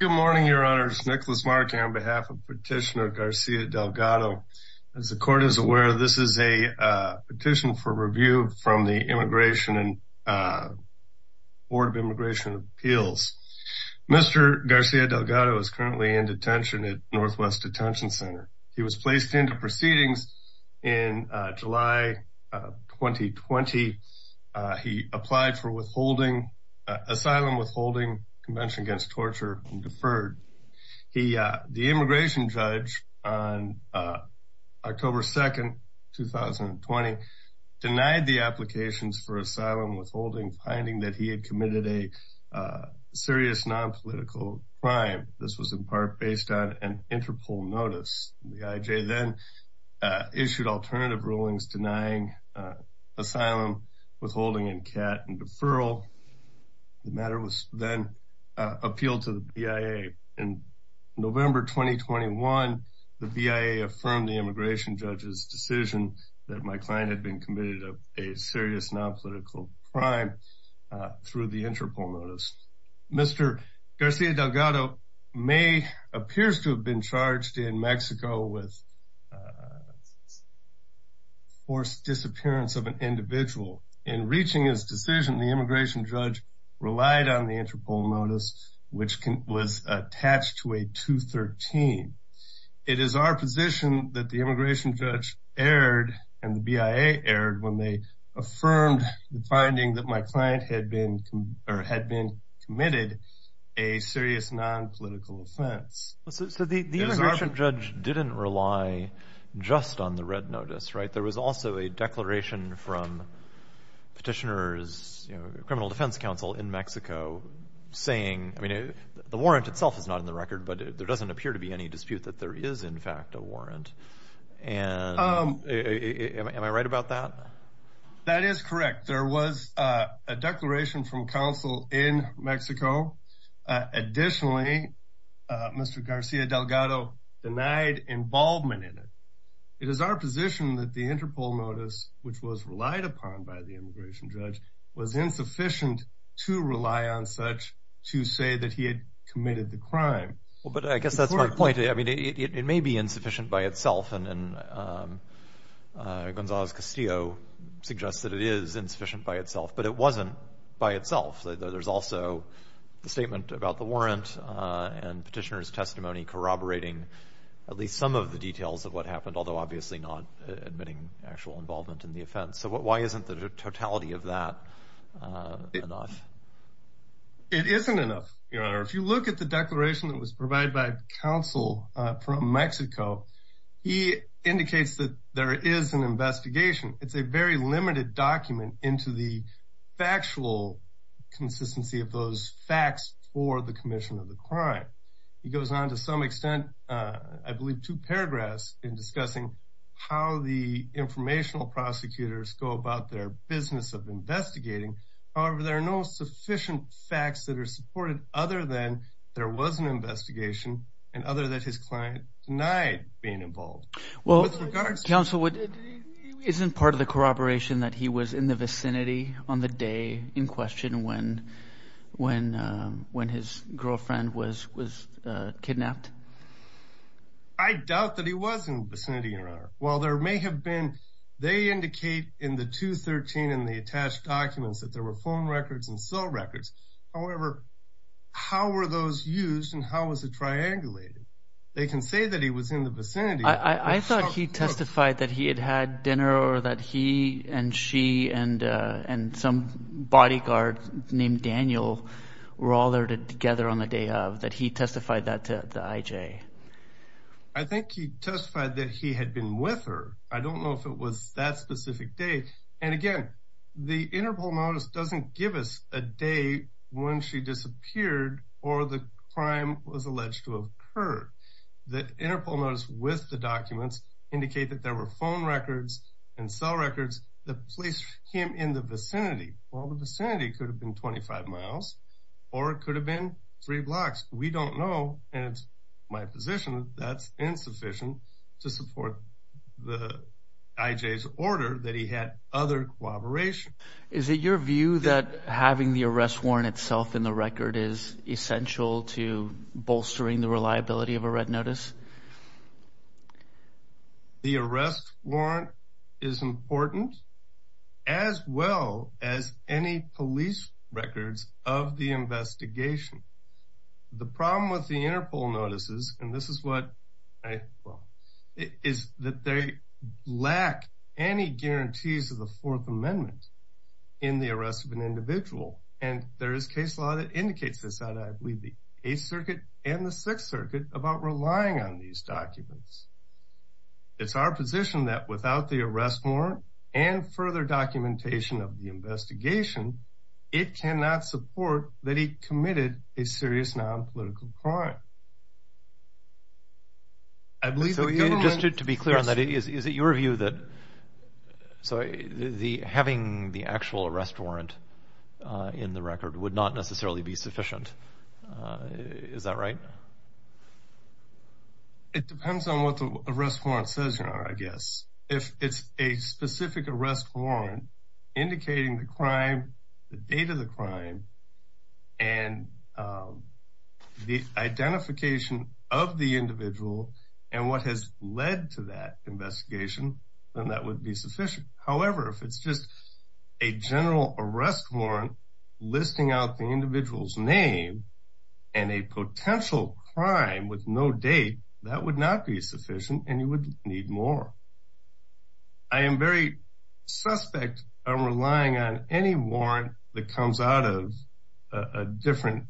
Good morning, your honors. Nicholas Martin on behalf of Petitioner Garcia Delgado. As the court is aware, this is a petition for review from the Immigration and Board of Immigration Appeals. Mr. Garcia Delgado is currently in detention at Northwest Detention Center. He was placed into proceedings in July 2020. He applied for asylum withholding convention against torture and deferred. The immigration judge on October 2, 2020, denied the applications for asylum withholding, finding that he had committed a serious non-political crime. This was in part based on an Interpol notice. The IJ then issued alternative rulings denying asylum withholding and CAT and deferral. The matter was then appealed to the BIA. In November 2021, the BIA affirmed the immigration judge's decision that my client had been committed a serious non-political crime through the Interpol notice. Mr. Garcia Delgado may appears to have been charged in Mexico with forced disappearance of an individual. In reaching his decision, the immigration judge relied on the Interpol notice, which was attached to a 213. It is our position that the immigration client had been committed a serious non-political offense. So the immigration judge didn't rely just on the red notice, right? There was also a declaration from Petitioner's Criminal Defense Council in Mexico saying, I mean, the warrant itself is not in the record, but there doesn't appear to be any dispute that there is in fact a warrant. And am I right about that? That is correct. There was a declaration from counsel in Mexico. Additionally, Mr. Garcia Delgado denied involvement in it. It is our position that the Interpol notice, which was relied upon by the immigration judge, was insufficient to rely on such to say that he had committed the crime. Well, but I guess that's my point. I mean, it may be insufficient by itself, and Gonzales Castillo suggests that it is insufficient by itself, but it wasn't by itself. There's also the statement about the warrant and Petitioner's testimony corroborating at least some of the details of what happened, although obviously not admitting actual involvement in the offense. So why isn't the totality of that enough? It isn't enough, Your Honor. If you look at the declaration that was provided by counsel from Mexico, he indicates that there is an investigation. It's a very limited document into the factual consistency of those facts for the commission of the crime. He goes on to some extent, I believe two paragraphs in discussing how the informational prosecutors go about their of investigating. However, there are no sufficient facts that are supported other than there was an investigation and other that his client denied being involved. Well, with regards to counsel, isn't part of the corroboration that he was in the vicinity on the day in question when his girlfriend was kidnapped? I doubt that he was in the vicinity, Your Honor. Well, may have been. They indicate in the 213 and the attached documents that there were phone records and cell records. However, how were those used and how was it triangulated? They can say that he was in the vicinity. I thought he testified that he had had dinner or that he and she and some bodyguard named Daniel were all there together on the day of that. He testified that to I don't know if it was that specific day. And again, the interval notice doesn't give us a day when she disappeared or the crime was alleged to have occurred. The interval notice with the documents indicate that there were phone records and cell records that placed him in the vicinity. Well, the vicinity could have been 25 miles or it could have been three blocks. We don't know. And it's my position that's insufficient to support the IJ's order that he had other corroboration. Is it your view that having the arrest warrant itself in the record is essential to bolstering the reliability of a red notice? The arrest warrant is important as well as any police records of the investigation. The problem with the interval notices, and this is what I well, is that they lack any guarantees of the Fourth Amendment in the arrest of an individual. And there is case law that indicates this that I believe the Eighth Circuit and the Sixth Circuit about relying on these documents. It's our position that without the arrest warrant and further documentation of the investigation, it cannot support that he committed a serious non-political crime. I believe so. Just to be clear on that, is it your view that so having the actual arrest warrant in the record would not necessarily be sufficient? Is that right? It depends on what the arrest warrant says, you know, I guess. If it's a specific arrest warrant indicating the crime, the date of the crime, and the identification of the individual and what has led to that investigation, then that would be sufficient. However, if it's just a general arrest warrant listing out the individual's name and a potential crime with no date, that would not be sufficient and you would need more. I am very suspect of relying on any warrant that comes out of a different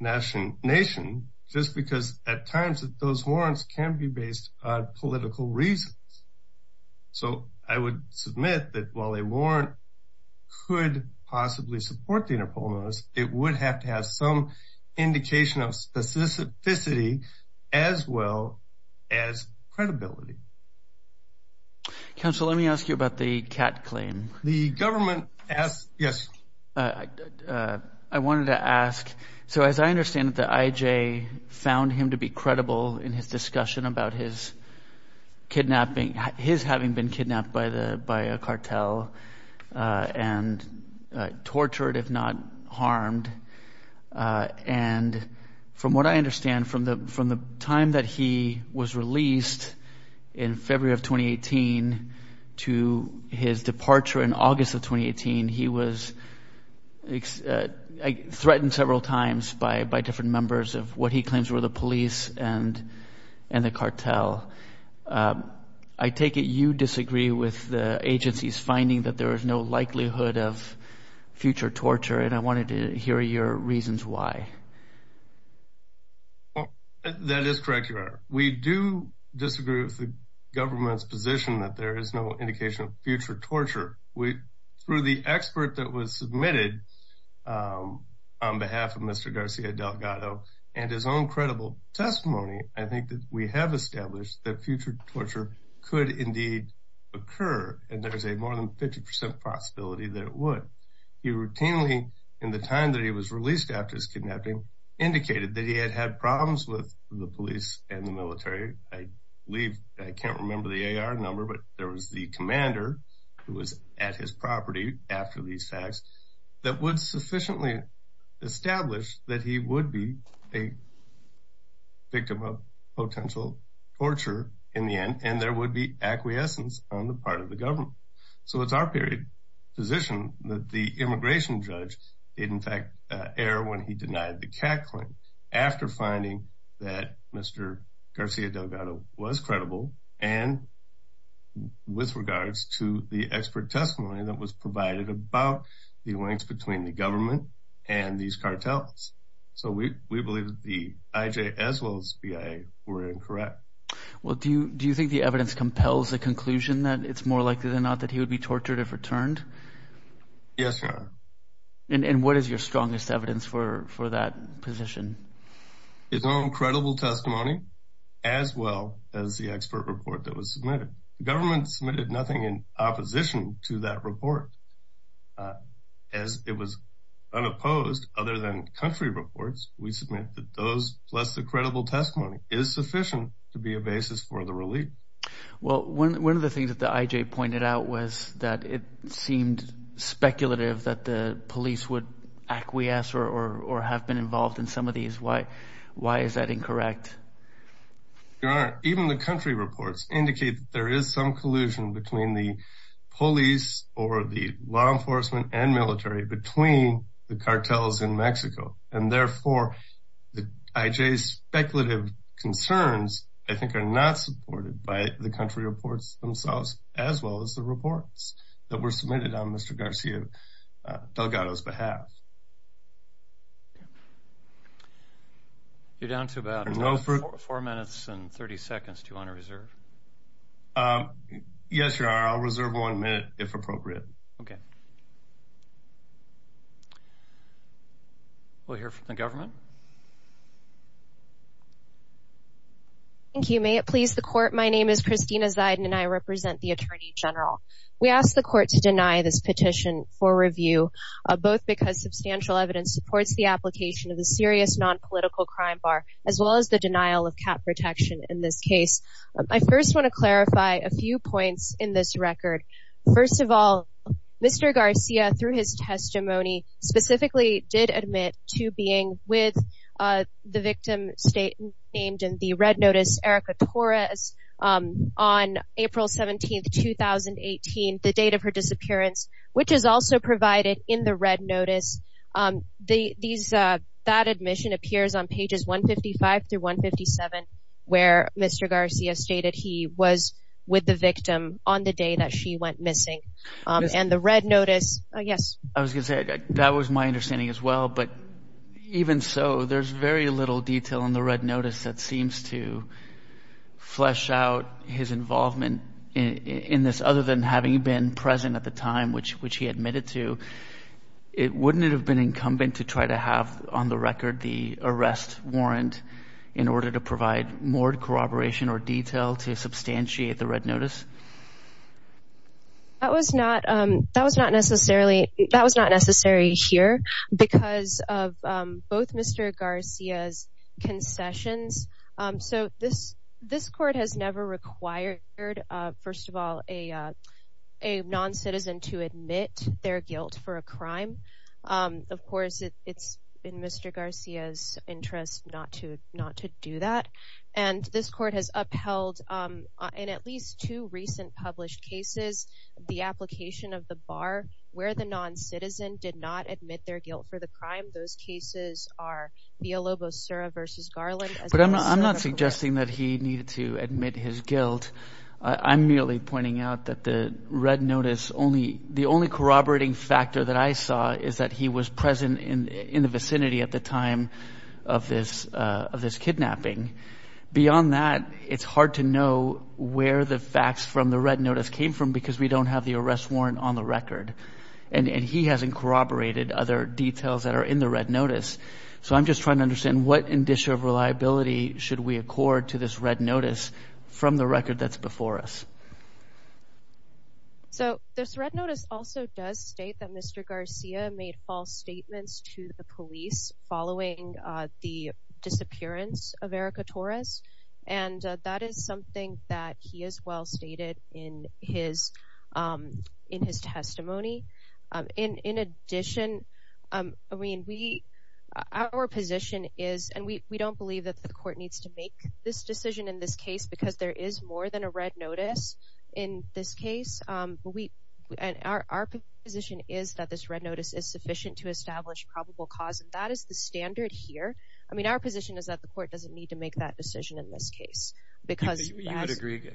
nation just because at times those warrants can be based on political reasons. So I would submit that while a warrant could possibly support the interval notice, it would have to have some indication of specificity as well as credibility. Counsel, let me ask you about the Catt claim. The government asked, yes. I wanted to ask, so as I understand that the IJ found him to be credible in his discussion about his having been kidnapped by a cartel and tortured, if not harmed. And from what I understand, from the time that he was released in February of 2018 to his departure in August of 2018, he was threatened several times by different members of what he claims were the police and the cartel. I take it you disagree with the agency's finding that there is no likelihood of future torture and I wanted to hear your reasons why. That is correct, Your Honor. We do disagree with the government's position that there is no indication of future torture. Through the expert that was submitted on behalf of Mr. Garcia Delgado and his own credible testimony, I think that we have established that future torture could indeed occur and there's a more than 50 percent possibility that it would. He routinely, in the time that he was released after his kidnapping, indicated that he had had problems with the police and the military. I believe, I can't remember the AR number, but there was the commander who was at his property after these facts that would sufficiently establish that he would be a victim of potential torture in the end and there would be acquiescence on the part of the government. So it's our position that the immigration judge did in fact err when he denied the catcalling after finding that Mr. Garcia Delgado was credible and with regards to the expert testimony that was provided about the links between the government and these cartels. So we believe that the IJ as well as BIA were incorrect. Well do you think the evidence compels the conclusion that it's more likely than not that he would be tortured if returned? Yes, Your Honor. And what is your strongest evidence for that position? His own credible testimony as well as the expert report that was submitted. The government submitted nothing in opposition to that report. As it was unopposed other than country reports, we submit that those plus the credible testimony is sufficient to be a basis for the relief. Well one of the things that the IJ pointed out was that it seemed speculative that the police would acquiesce or have been involved in some of these. Why is that incorrect? Your Honor, even the country reports indicate that there is some collusion between the police or the law enforcement and military between the cartels in Mexico and therefore the IJ's speculative concerns I think are not supported by the country reports themselves as well as the reports that were submitted on Mr. Garcia Delgado's behalf. You're down to about four minutes and 30 seconds. Do you want to reserve? Yes, Your Honor. I'll reserve one minute if appropriate. Okay. We'll hear from the government. Thank you. May it please the court. My name is Christina Ziden and I represent the Attorney General. We ask the court to deny this petition for review both because subservience to the evidence supports the application of the serious non-political crime bar as well as the denial of cap protection in this case. I first want to clarify a few points in this record. First of all, Mr. Garcia through his testimony specifically did admit to being with the victim named in the red notice Erika Torres on April 17, 2018, the date of her disappearance which is also provided in the these that admission appears on pages 155 through 157 where Mr. Garcia stated he was with the victim on the day that she went missing and the red notice. Yes. I was going to say that was my understanding as well but even so there's very little detail in the red notice that seems to flesh out his involvement in this other than having been present at the time which he admitted to. Wouldn't it have been incumbent to try to have on the record the arrest warrant in order to provide more corroboration or detail to substantiate the red notice? That was not necessary here because of both Mr. Garcia's concessions. So this court has never required, first of all, a non-citizen to admit their guilt for a crime. Of course, it's in Mr. Garcia's interest not to do that and this court has upheld in at least two recent published cases the application of the bar where the non-citizen did not admit their guilt for the crime. Those cases are Villalobos-Surra versus Garland. But I'm not suggesting that he needed to admit his guilt. I'm merely pointing out that the red notice only the only corroborating factor that I saw is that he was present in in the vicinity at the time of this of this kidnapping. Beyond that, it's hard to know where the facts from the red notice came from because we don't have the arrest warrant on the record and he hasn't corroborated other details that are in the red notice. So I'm just trying to understand what indicia of reliability should we accord to this red notice from the record that's before us? So this red notice also does state that Mr. Garcia made false statements to the police following the of Erika Torres and that is something that he has well stated in his testimony. In addition, our position is and we don't believe that the court needs to make this decision in this case because there is more than a red notice in this case. Our position is that this red notice is the standard here. I mean, our position is that the court doesn't need to make that decision in this case because you would agree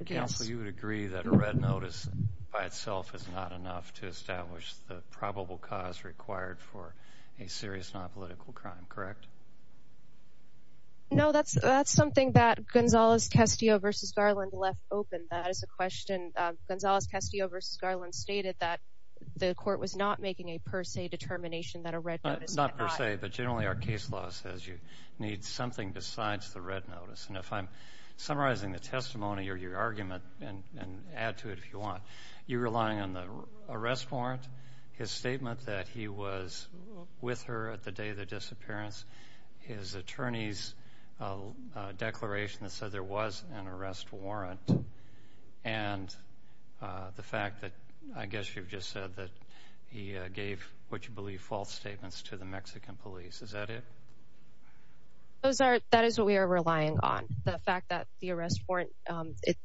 that a red notice by itself is not enough to establish the probable cause required for a serious nonpolitical crime, correct? No, that's that's something that Gonzales Castillo versus Garland left open. That is a question. Gonzales Castillo versus Garland stated that the court was not making a per se determination that not per se, but generally our case law says you need something besides the red notice. And if I'm summarizing the testimony or your argument and add to it if you want, you're relying on the arrest warrant, his statement that he was with her at the day of the disappearance, his attorney's declaration that said there was an arrest warrant, and the fact that I guess you've said that he gave what you believe false statements to the Mexican police. Is that it? Those are, that is what we are relying on. The fact that the arrest warrant,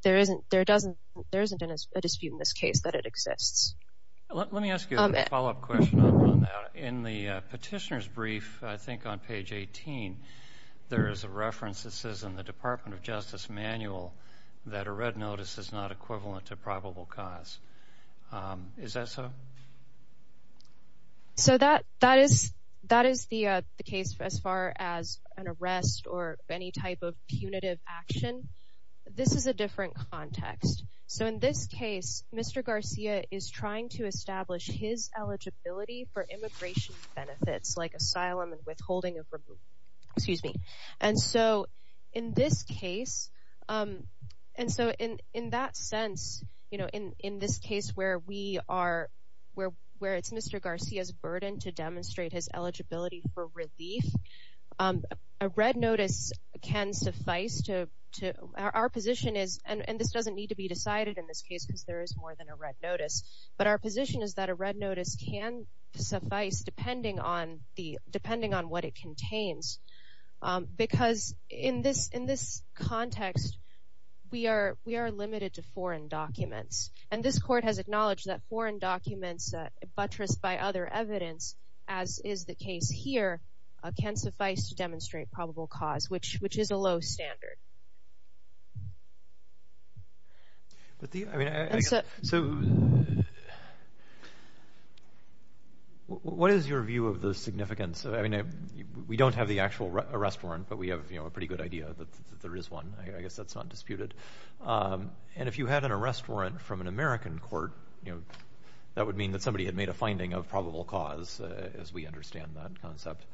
there isn't, there doesn't, there isn't a dispute in this case that it exists. Let me ask you a follow-up question on that. In the petitioner's brief, I think on page 18, there is a reference that says in the Department of Justice manual that a red notice is not a per se. So that is the case as far as an arrest or any type of punitive action. This is a different context. So in this case, Mr. Garcia is trying to establish his eligibility for immigration benefits like asylum and withholding of, excuse me. And so in this case, and so in that sense, you know, in this case where we are, where it's Mr. Garcia's burden to demonstrate his eligibility for relief, a red notice can suffice to, our position is, and this doesn't need to be decided in this case because there is more than a red notice, but our position is that a red notice can suffice depending on what it contains. Because in this, in this context, we are, we are limited to foreign documents. And this court has acknowledged that foreign documents buttressed by other evidence, as is the case here, can suffice to demonstrate probable cause, which, which is a low standard. But the, I mean, so, so what is your view of the significance of, I mean, we don't have the actual arrest warrant, but we have, you know, a pretty good idea that there is one. I guess that's not disputed. And if you had an arrest warrant from an American court, you know, that would mean that somebody had made a finding of probable cause, as we understand that concept.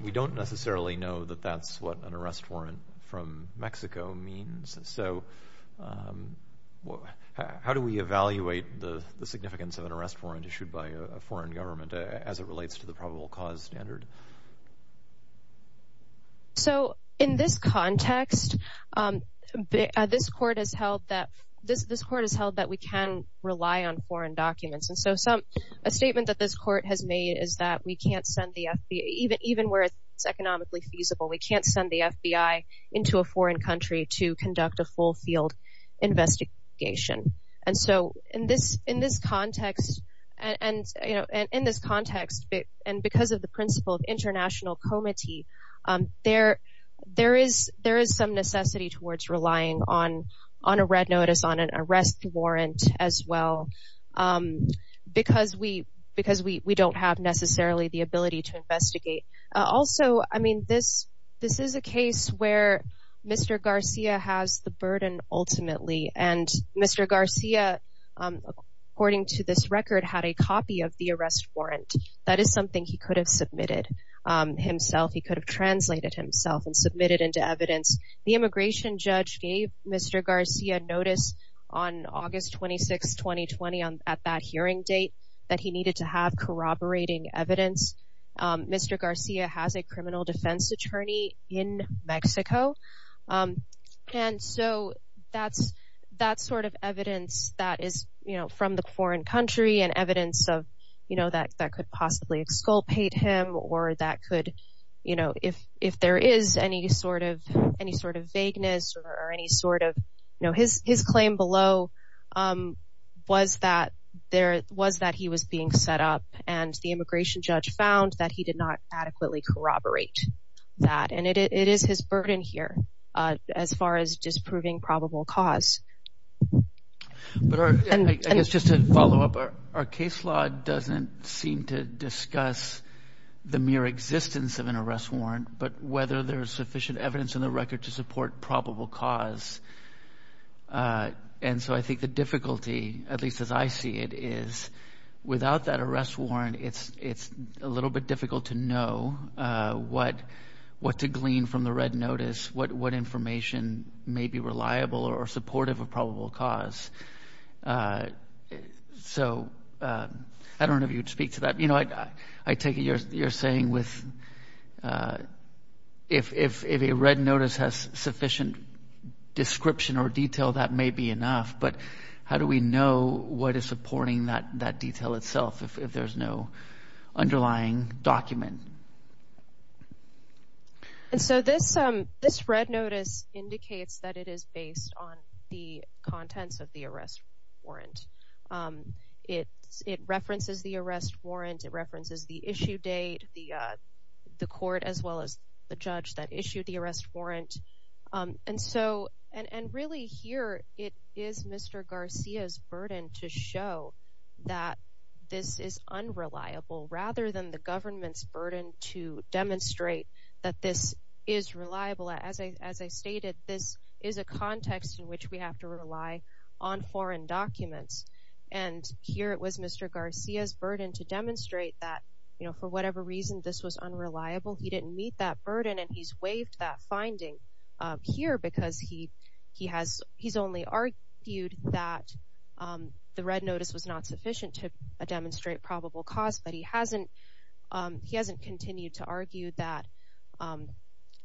We don't necessarily know that that's what an arrest warrant from Mexico means. So, how do we evaluate the significance of an arrest warrant issued by a foreign government as it relates to the probable cause standard? So, in this context, this court has held that, this, this court has held that we can rely on foreign documents. And so some, a statement that this court has made is that we can't send the FBI, even where it's economically feasible, we can't send the FBI into a foreign country to conduct a full field investigation. And so in this, in this context, and, you know, and in this context, and because of the principle of international comity, there, there is, there is some necessity towards relying on, on a red notice, on an arrest warrant as well. Because we, because we don't have necessarily the ability to investigate. Also, I mean, this, this is a case where Mr. Garcia has the burden ultimately, and Mr. Garcia, according to this record, had a copy of the arrest warrant. That is something he could have submitted himself. He could have translated himself and submitted into evidence. The immigration judge gave Mr. Garcia notice on August 26, 2020, on, at that evidence. Mr. Garcia has a criminal defense attorney in Mexico. And so that's, that sort of evidence that is, you know, from the foreign country and evidence of, you know, that, that could possibly exculpate him or that could, you know, if, if there is any sort of, any sort of vagueness or any sort of, you know, his, his claim below was that there was that he was being set up and the immigration judge found that he did not adequately corroborate that. And it is his burden here, as far as disproving probable cause. But I guess just to follow up, our case law doesn't seem to discuss the mere existence of an arrest warrant, but whether there's sufficient evidence in the record to support probable cause. And so I think the difficulty, at least as I see it, is without that arrest warrant, it's, it's a little bit difficult to know what, what to glean from the red notice, what, what information may be reliable or supportive of probable cause. So I don't know if you'd speak to that. You know, I, I take it you're, you're saying with, if, if, if a red notice has sufficient description or detail, that may be enough. But how do we know what is supporting that, that detail itself, if there's no underlying document? And so this, this red notice indicates that it is based on the contents of the arrest warrant. It's, it references the arrest warrant. It references the issue date, the, the court, as well as the judge that issued the arrest warrant. And so, and, and really here, it is Mr. Garcia's burden to show that this is unreliable, rather than the government's burden to demonstrate that this is reliable. As I, as I stated, this is a context in which we have to rely on foreign documents. And here it was Mr. Garcia's burden to demonstrate that, you know, for whatever reason, this was unreliable. He didn't meet that burden and he's waived that finding here because he, he has, he's only argued that the red notice was not sufficient to demonstrate probable cause, but he hasn't, he hasn't continued to argue that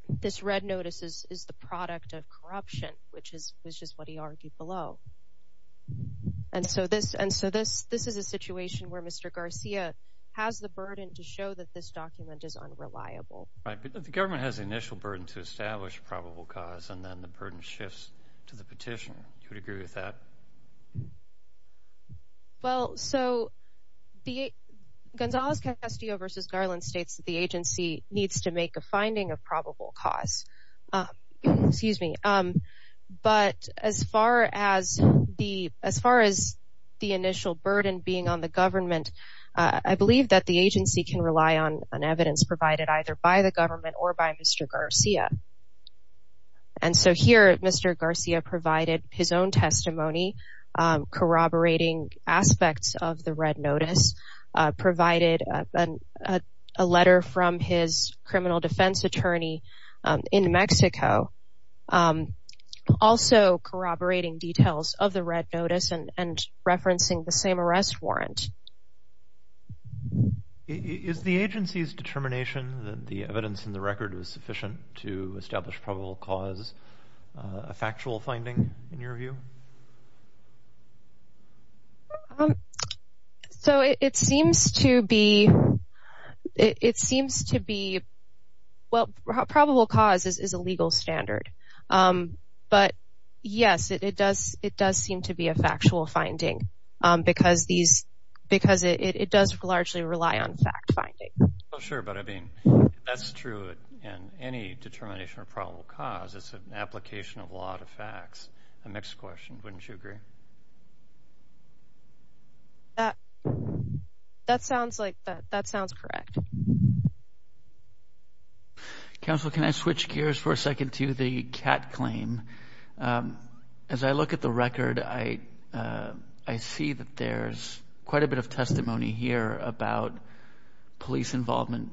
this red notice is, is the product of corruption, which is, which is what he argued below. And so this, and so this, this is a situation where Mr. Garcia has the burden to show that this document is unreliable. Right, but the government has the initial burden to establish probable cause and then the burden shifts to the petitioner. Do you agree with that? Well, so the Gonzales-Castillo v. Garland states that the agency needs to make a finding of probable cause. Excuse me. But as far as the, as far as the initial burden being on the government, I believe that the agency can rely on an evidence provided either by the government or by Mr. Garcia. And so here Mr. Garcia provided his own testimony, corroborating aspects of the red notice, provided a letter from his criminal defense attorney in Mexico, also corroborating details of the red notice and referencing the same arrest warrant. Is the agency's determination that the evidence in the record was sufficient to establish probable cause a factual finding in your view? Um, so it seems to be, it seems to be, well probable cause is a legal standard. But yes, it does, it does seem to be a factual finding because these, because it does largely rely on fact finding. Oh sure, but I mean that's true in any determination of probable cause. It's an application of law to facts. A mixed question, wouldn't you agree? That, that sounds like, that sounds correct. Counsel, can I switch gears for a second to the CAT claim? As I look at the record, I, I see that there's quite a bit of testimony here about police involvement,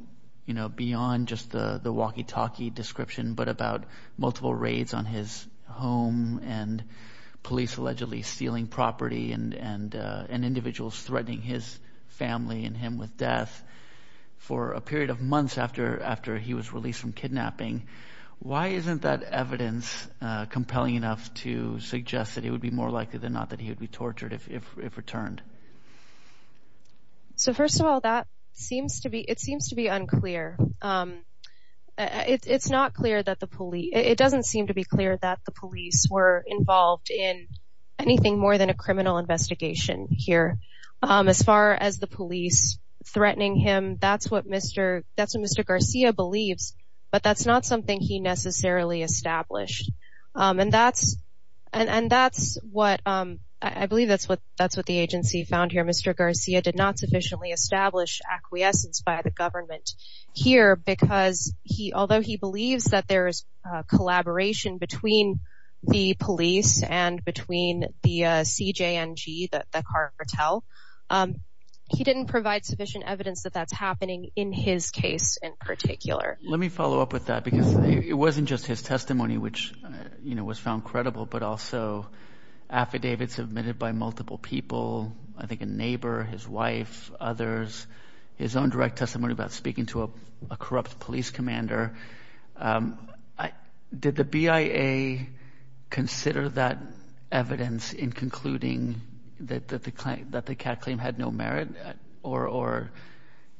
you know, beyond just the walkie talkie description, but about multiple raids on his home and police allegedly stealing property and, and, uh, and individuals threatening his family and him with death for a period of months after, after he was released from kidnapping. Why isn't that evidence compelling enough to suggest that it would be more likely than not that he would be tortured if, if, if returned? So first of all, that seems to be, it seems to be unclear. It's not clear that the police, it doesn't seem to be clear that the police were involved in anything more than a criminal investigation here. As far as the police threatening him, that's what Mr., that's what Mr. Garcia believes, but that's not something he necessarily established. And that's, and that's what, um, I believe that's what, that's what the agency found here. Mr. Garcia did not sufficiently establish acquiescence by the government here because he, although he believes that there is a collaboration between the police and between the, uh, CJNG, the, the cartel, he didn't provide sufficient evidence that that's happening in his case in particular. Let me follow up with that because it wasn't just his testimony, which, you know, was found credible, but also affidavits submitted by multiple people, I think a neighbor, his wife, others, his own direct testimony about speaking to a corrupt police commander. Um, I, did the BIA consider that evidence in concluding that, that the, that the cat claim had no merit or, or,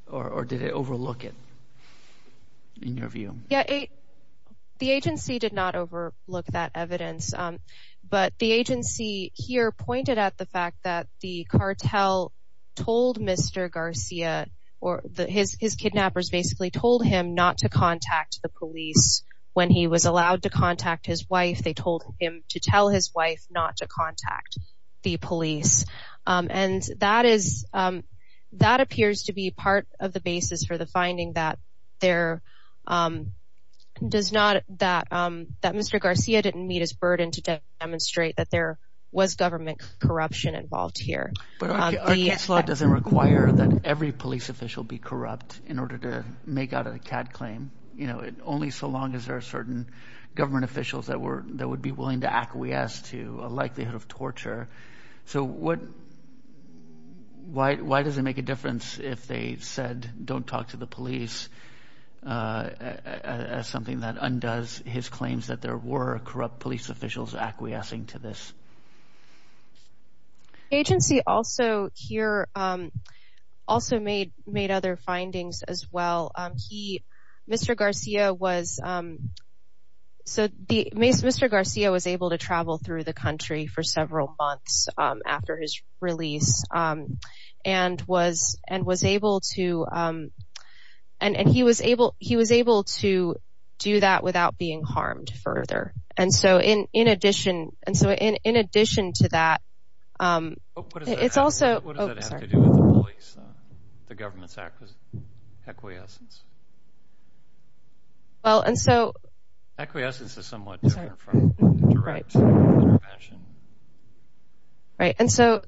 or, or did it overlook it in your view? Yeah. The agency did not overlook that evidence. Um, but the agency here pointed at the fact that the cartel told Mr. Garcia or the, his, his kidnappers basically told him not to contact the police when he was allowed to contact his wife. They told him to tell his wife not to contact the police. Um, and that is, um, that appears to be part of the basis for the finding that there, um, does not that, um, that Mr. Garcia didn't meet his burden to demonstrate that there was government corruption involved here. But our case law doesn't require that every police official be corrupt in order to make out a cat claim. You know, it only so long as there are certain government officials that were, that would be willing to acquiesce to a likelihood of torture. So what, why, why does it make a difference if they said don't talk to the police, uh, as something that undoes his claims that there were corrupt police officials acquiescing to this? Agency also here, um, also made, made other findings as well. Um, he, Mr. Garcia was, um, so the, Mr. Garcia was able to travel through the country for several months, um, after his release, um, and was, and was able to, um, and, and he was able, he was able to do that without being harmed further. And so in, in addition, and so in, in addition to that, um, it's also, what does that have to do with the police, uh, the government's acquiescence? Well, and so, acquiescence is somewhat different from direct intervention. Right. And so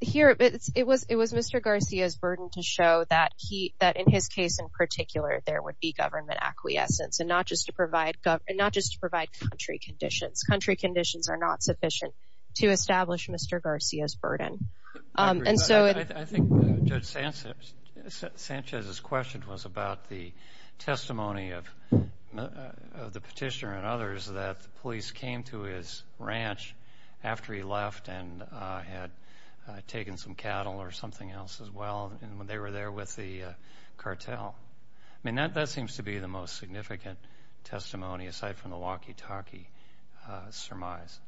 here it's, it was, it was Mr. Garcia's burden to show that he, that in his case in particular, there would be government acquiescence and not just to provide government, not just to provide country conditions. Country conditions are not sufficient to establish Mr. Garcia's burden. Um, and so. I think Judge Sanchez, Sanchez's question was about the testimony of, of the petitioner and others that the police came to his ranch after he left and, uh, had, uh, taken some cattle or something else as well. And when they were there with the, uh, cartel, I mean, that, that seems to be the most significant testimony aside from the walkie surmise.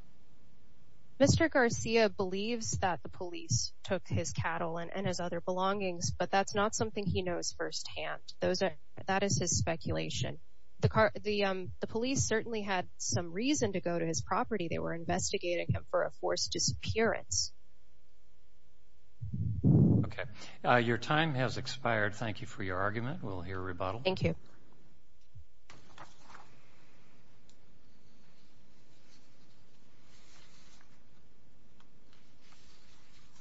Mr. Garcia believes that the police took his cattle and, and his other belongings, but that's not something he knows firsthand. Those are, that is his speculation. The car, the, um, the police certainly had some reason to go to his property. They were investigating him for a forced disappearance. Okay. Uh, your time has expired. Thank you for your argument. We'll move on.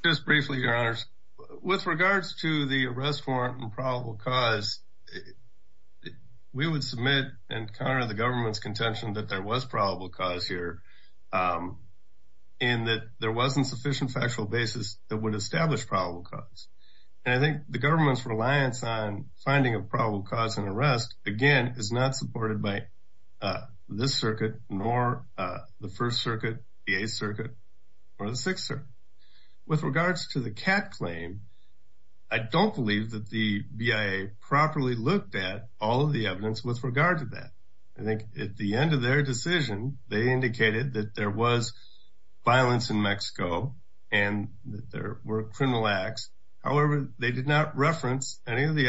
Just briefly, your honors, with regards to the arrest warrant and probable cause, we would submit and counter the government's contention that there was probable cause here, um, in that there wasn't sufficient factual basis that would establish probable cause. And I think the government's reliance on finding a probable cause and arrest, again, is not supported by, uh, this circuit, nor, uh, the first circuit, the eighth circuit or the sixth circuit. With regards to the cat claim, I don't believe that the BIA properly looked at all of the evidence with regard to that. I think at the end of their decision, they indicated that there was violence in Mexico and that there were criminal acts. However, they did not reference any of the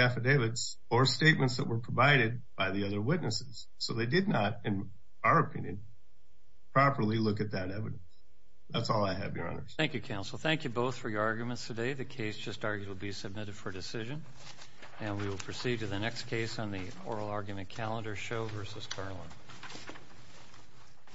So they did not, in our opinion, properly look at that evidence. That's all I have, your honors. Thank you, counsel. Thank you both for your arguments today. The case just argued will be submitted for decision, and we will proceed to the next case on the oral argument calendar show versus Carlin.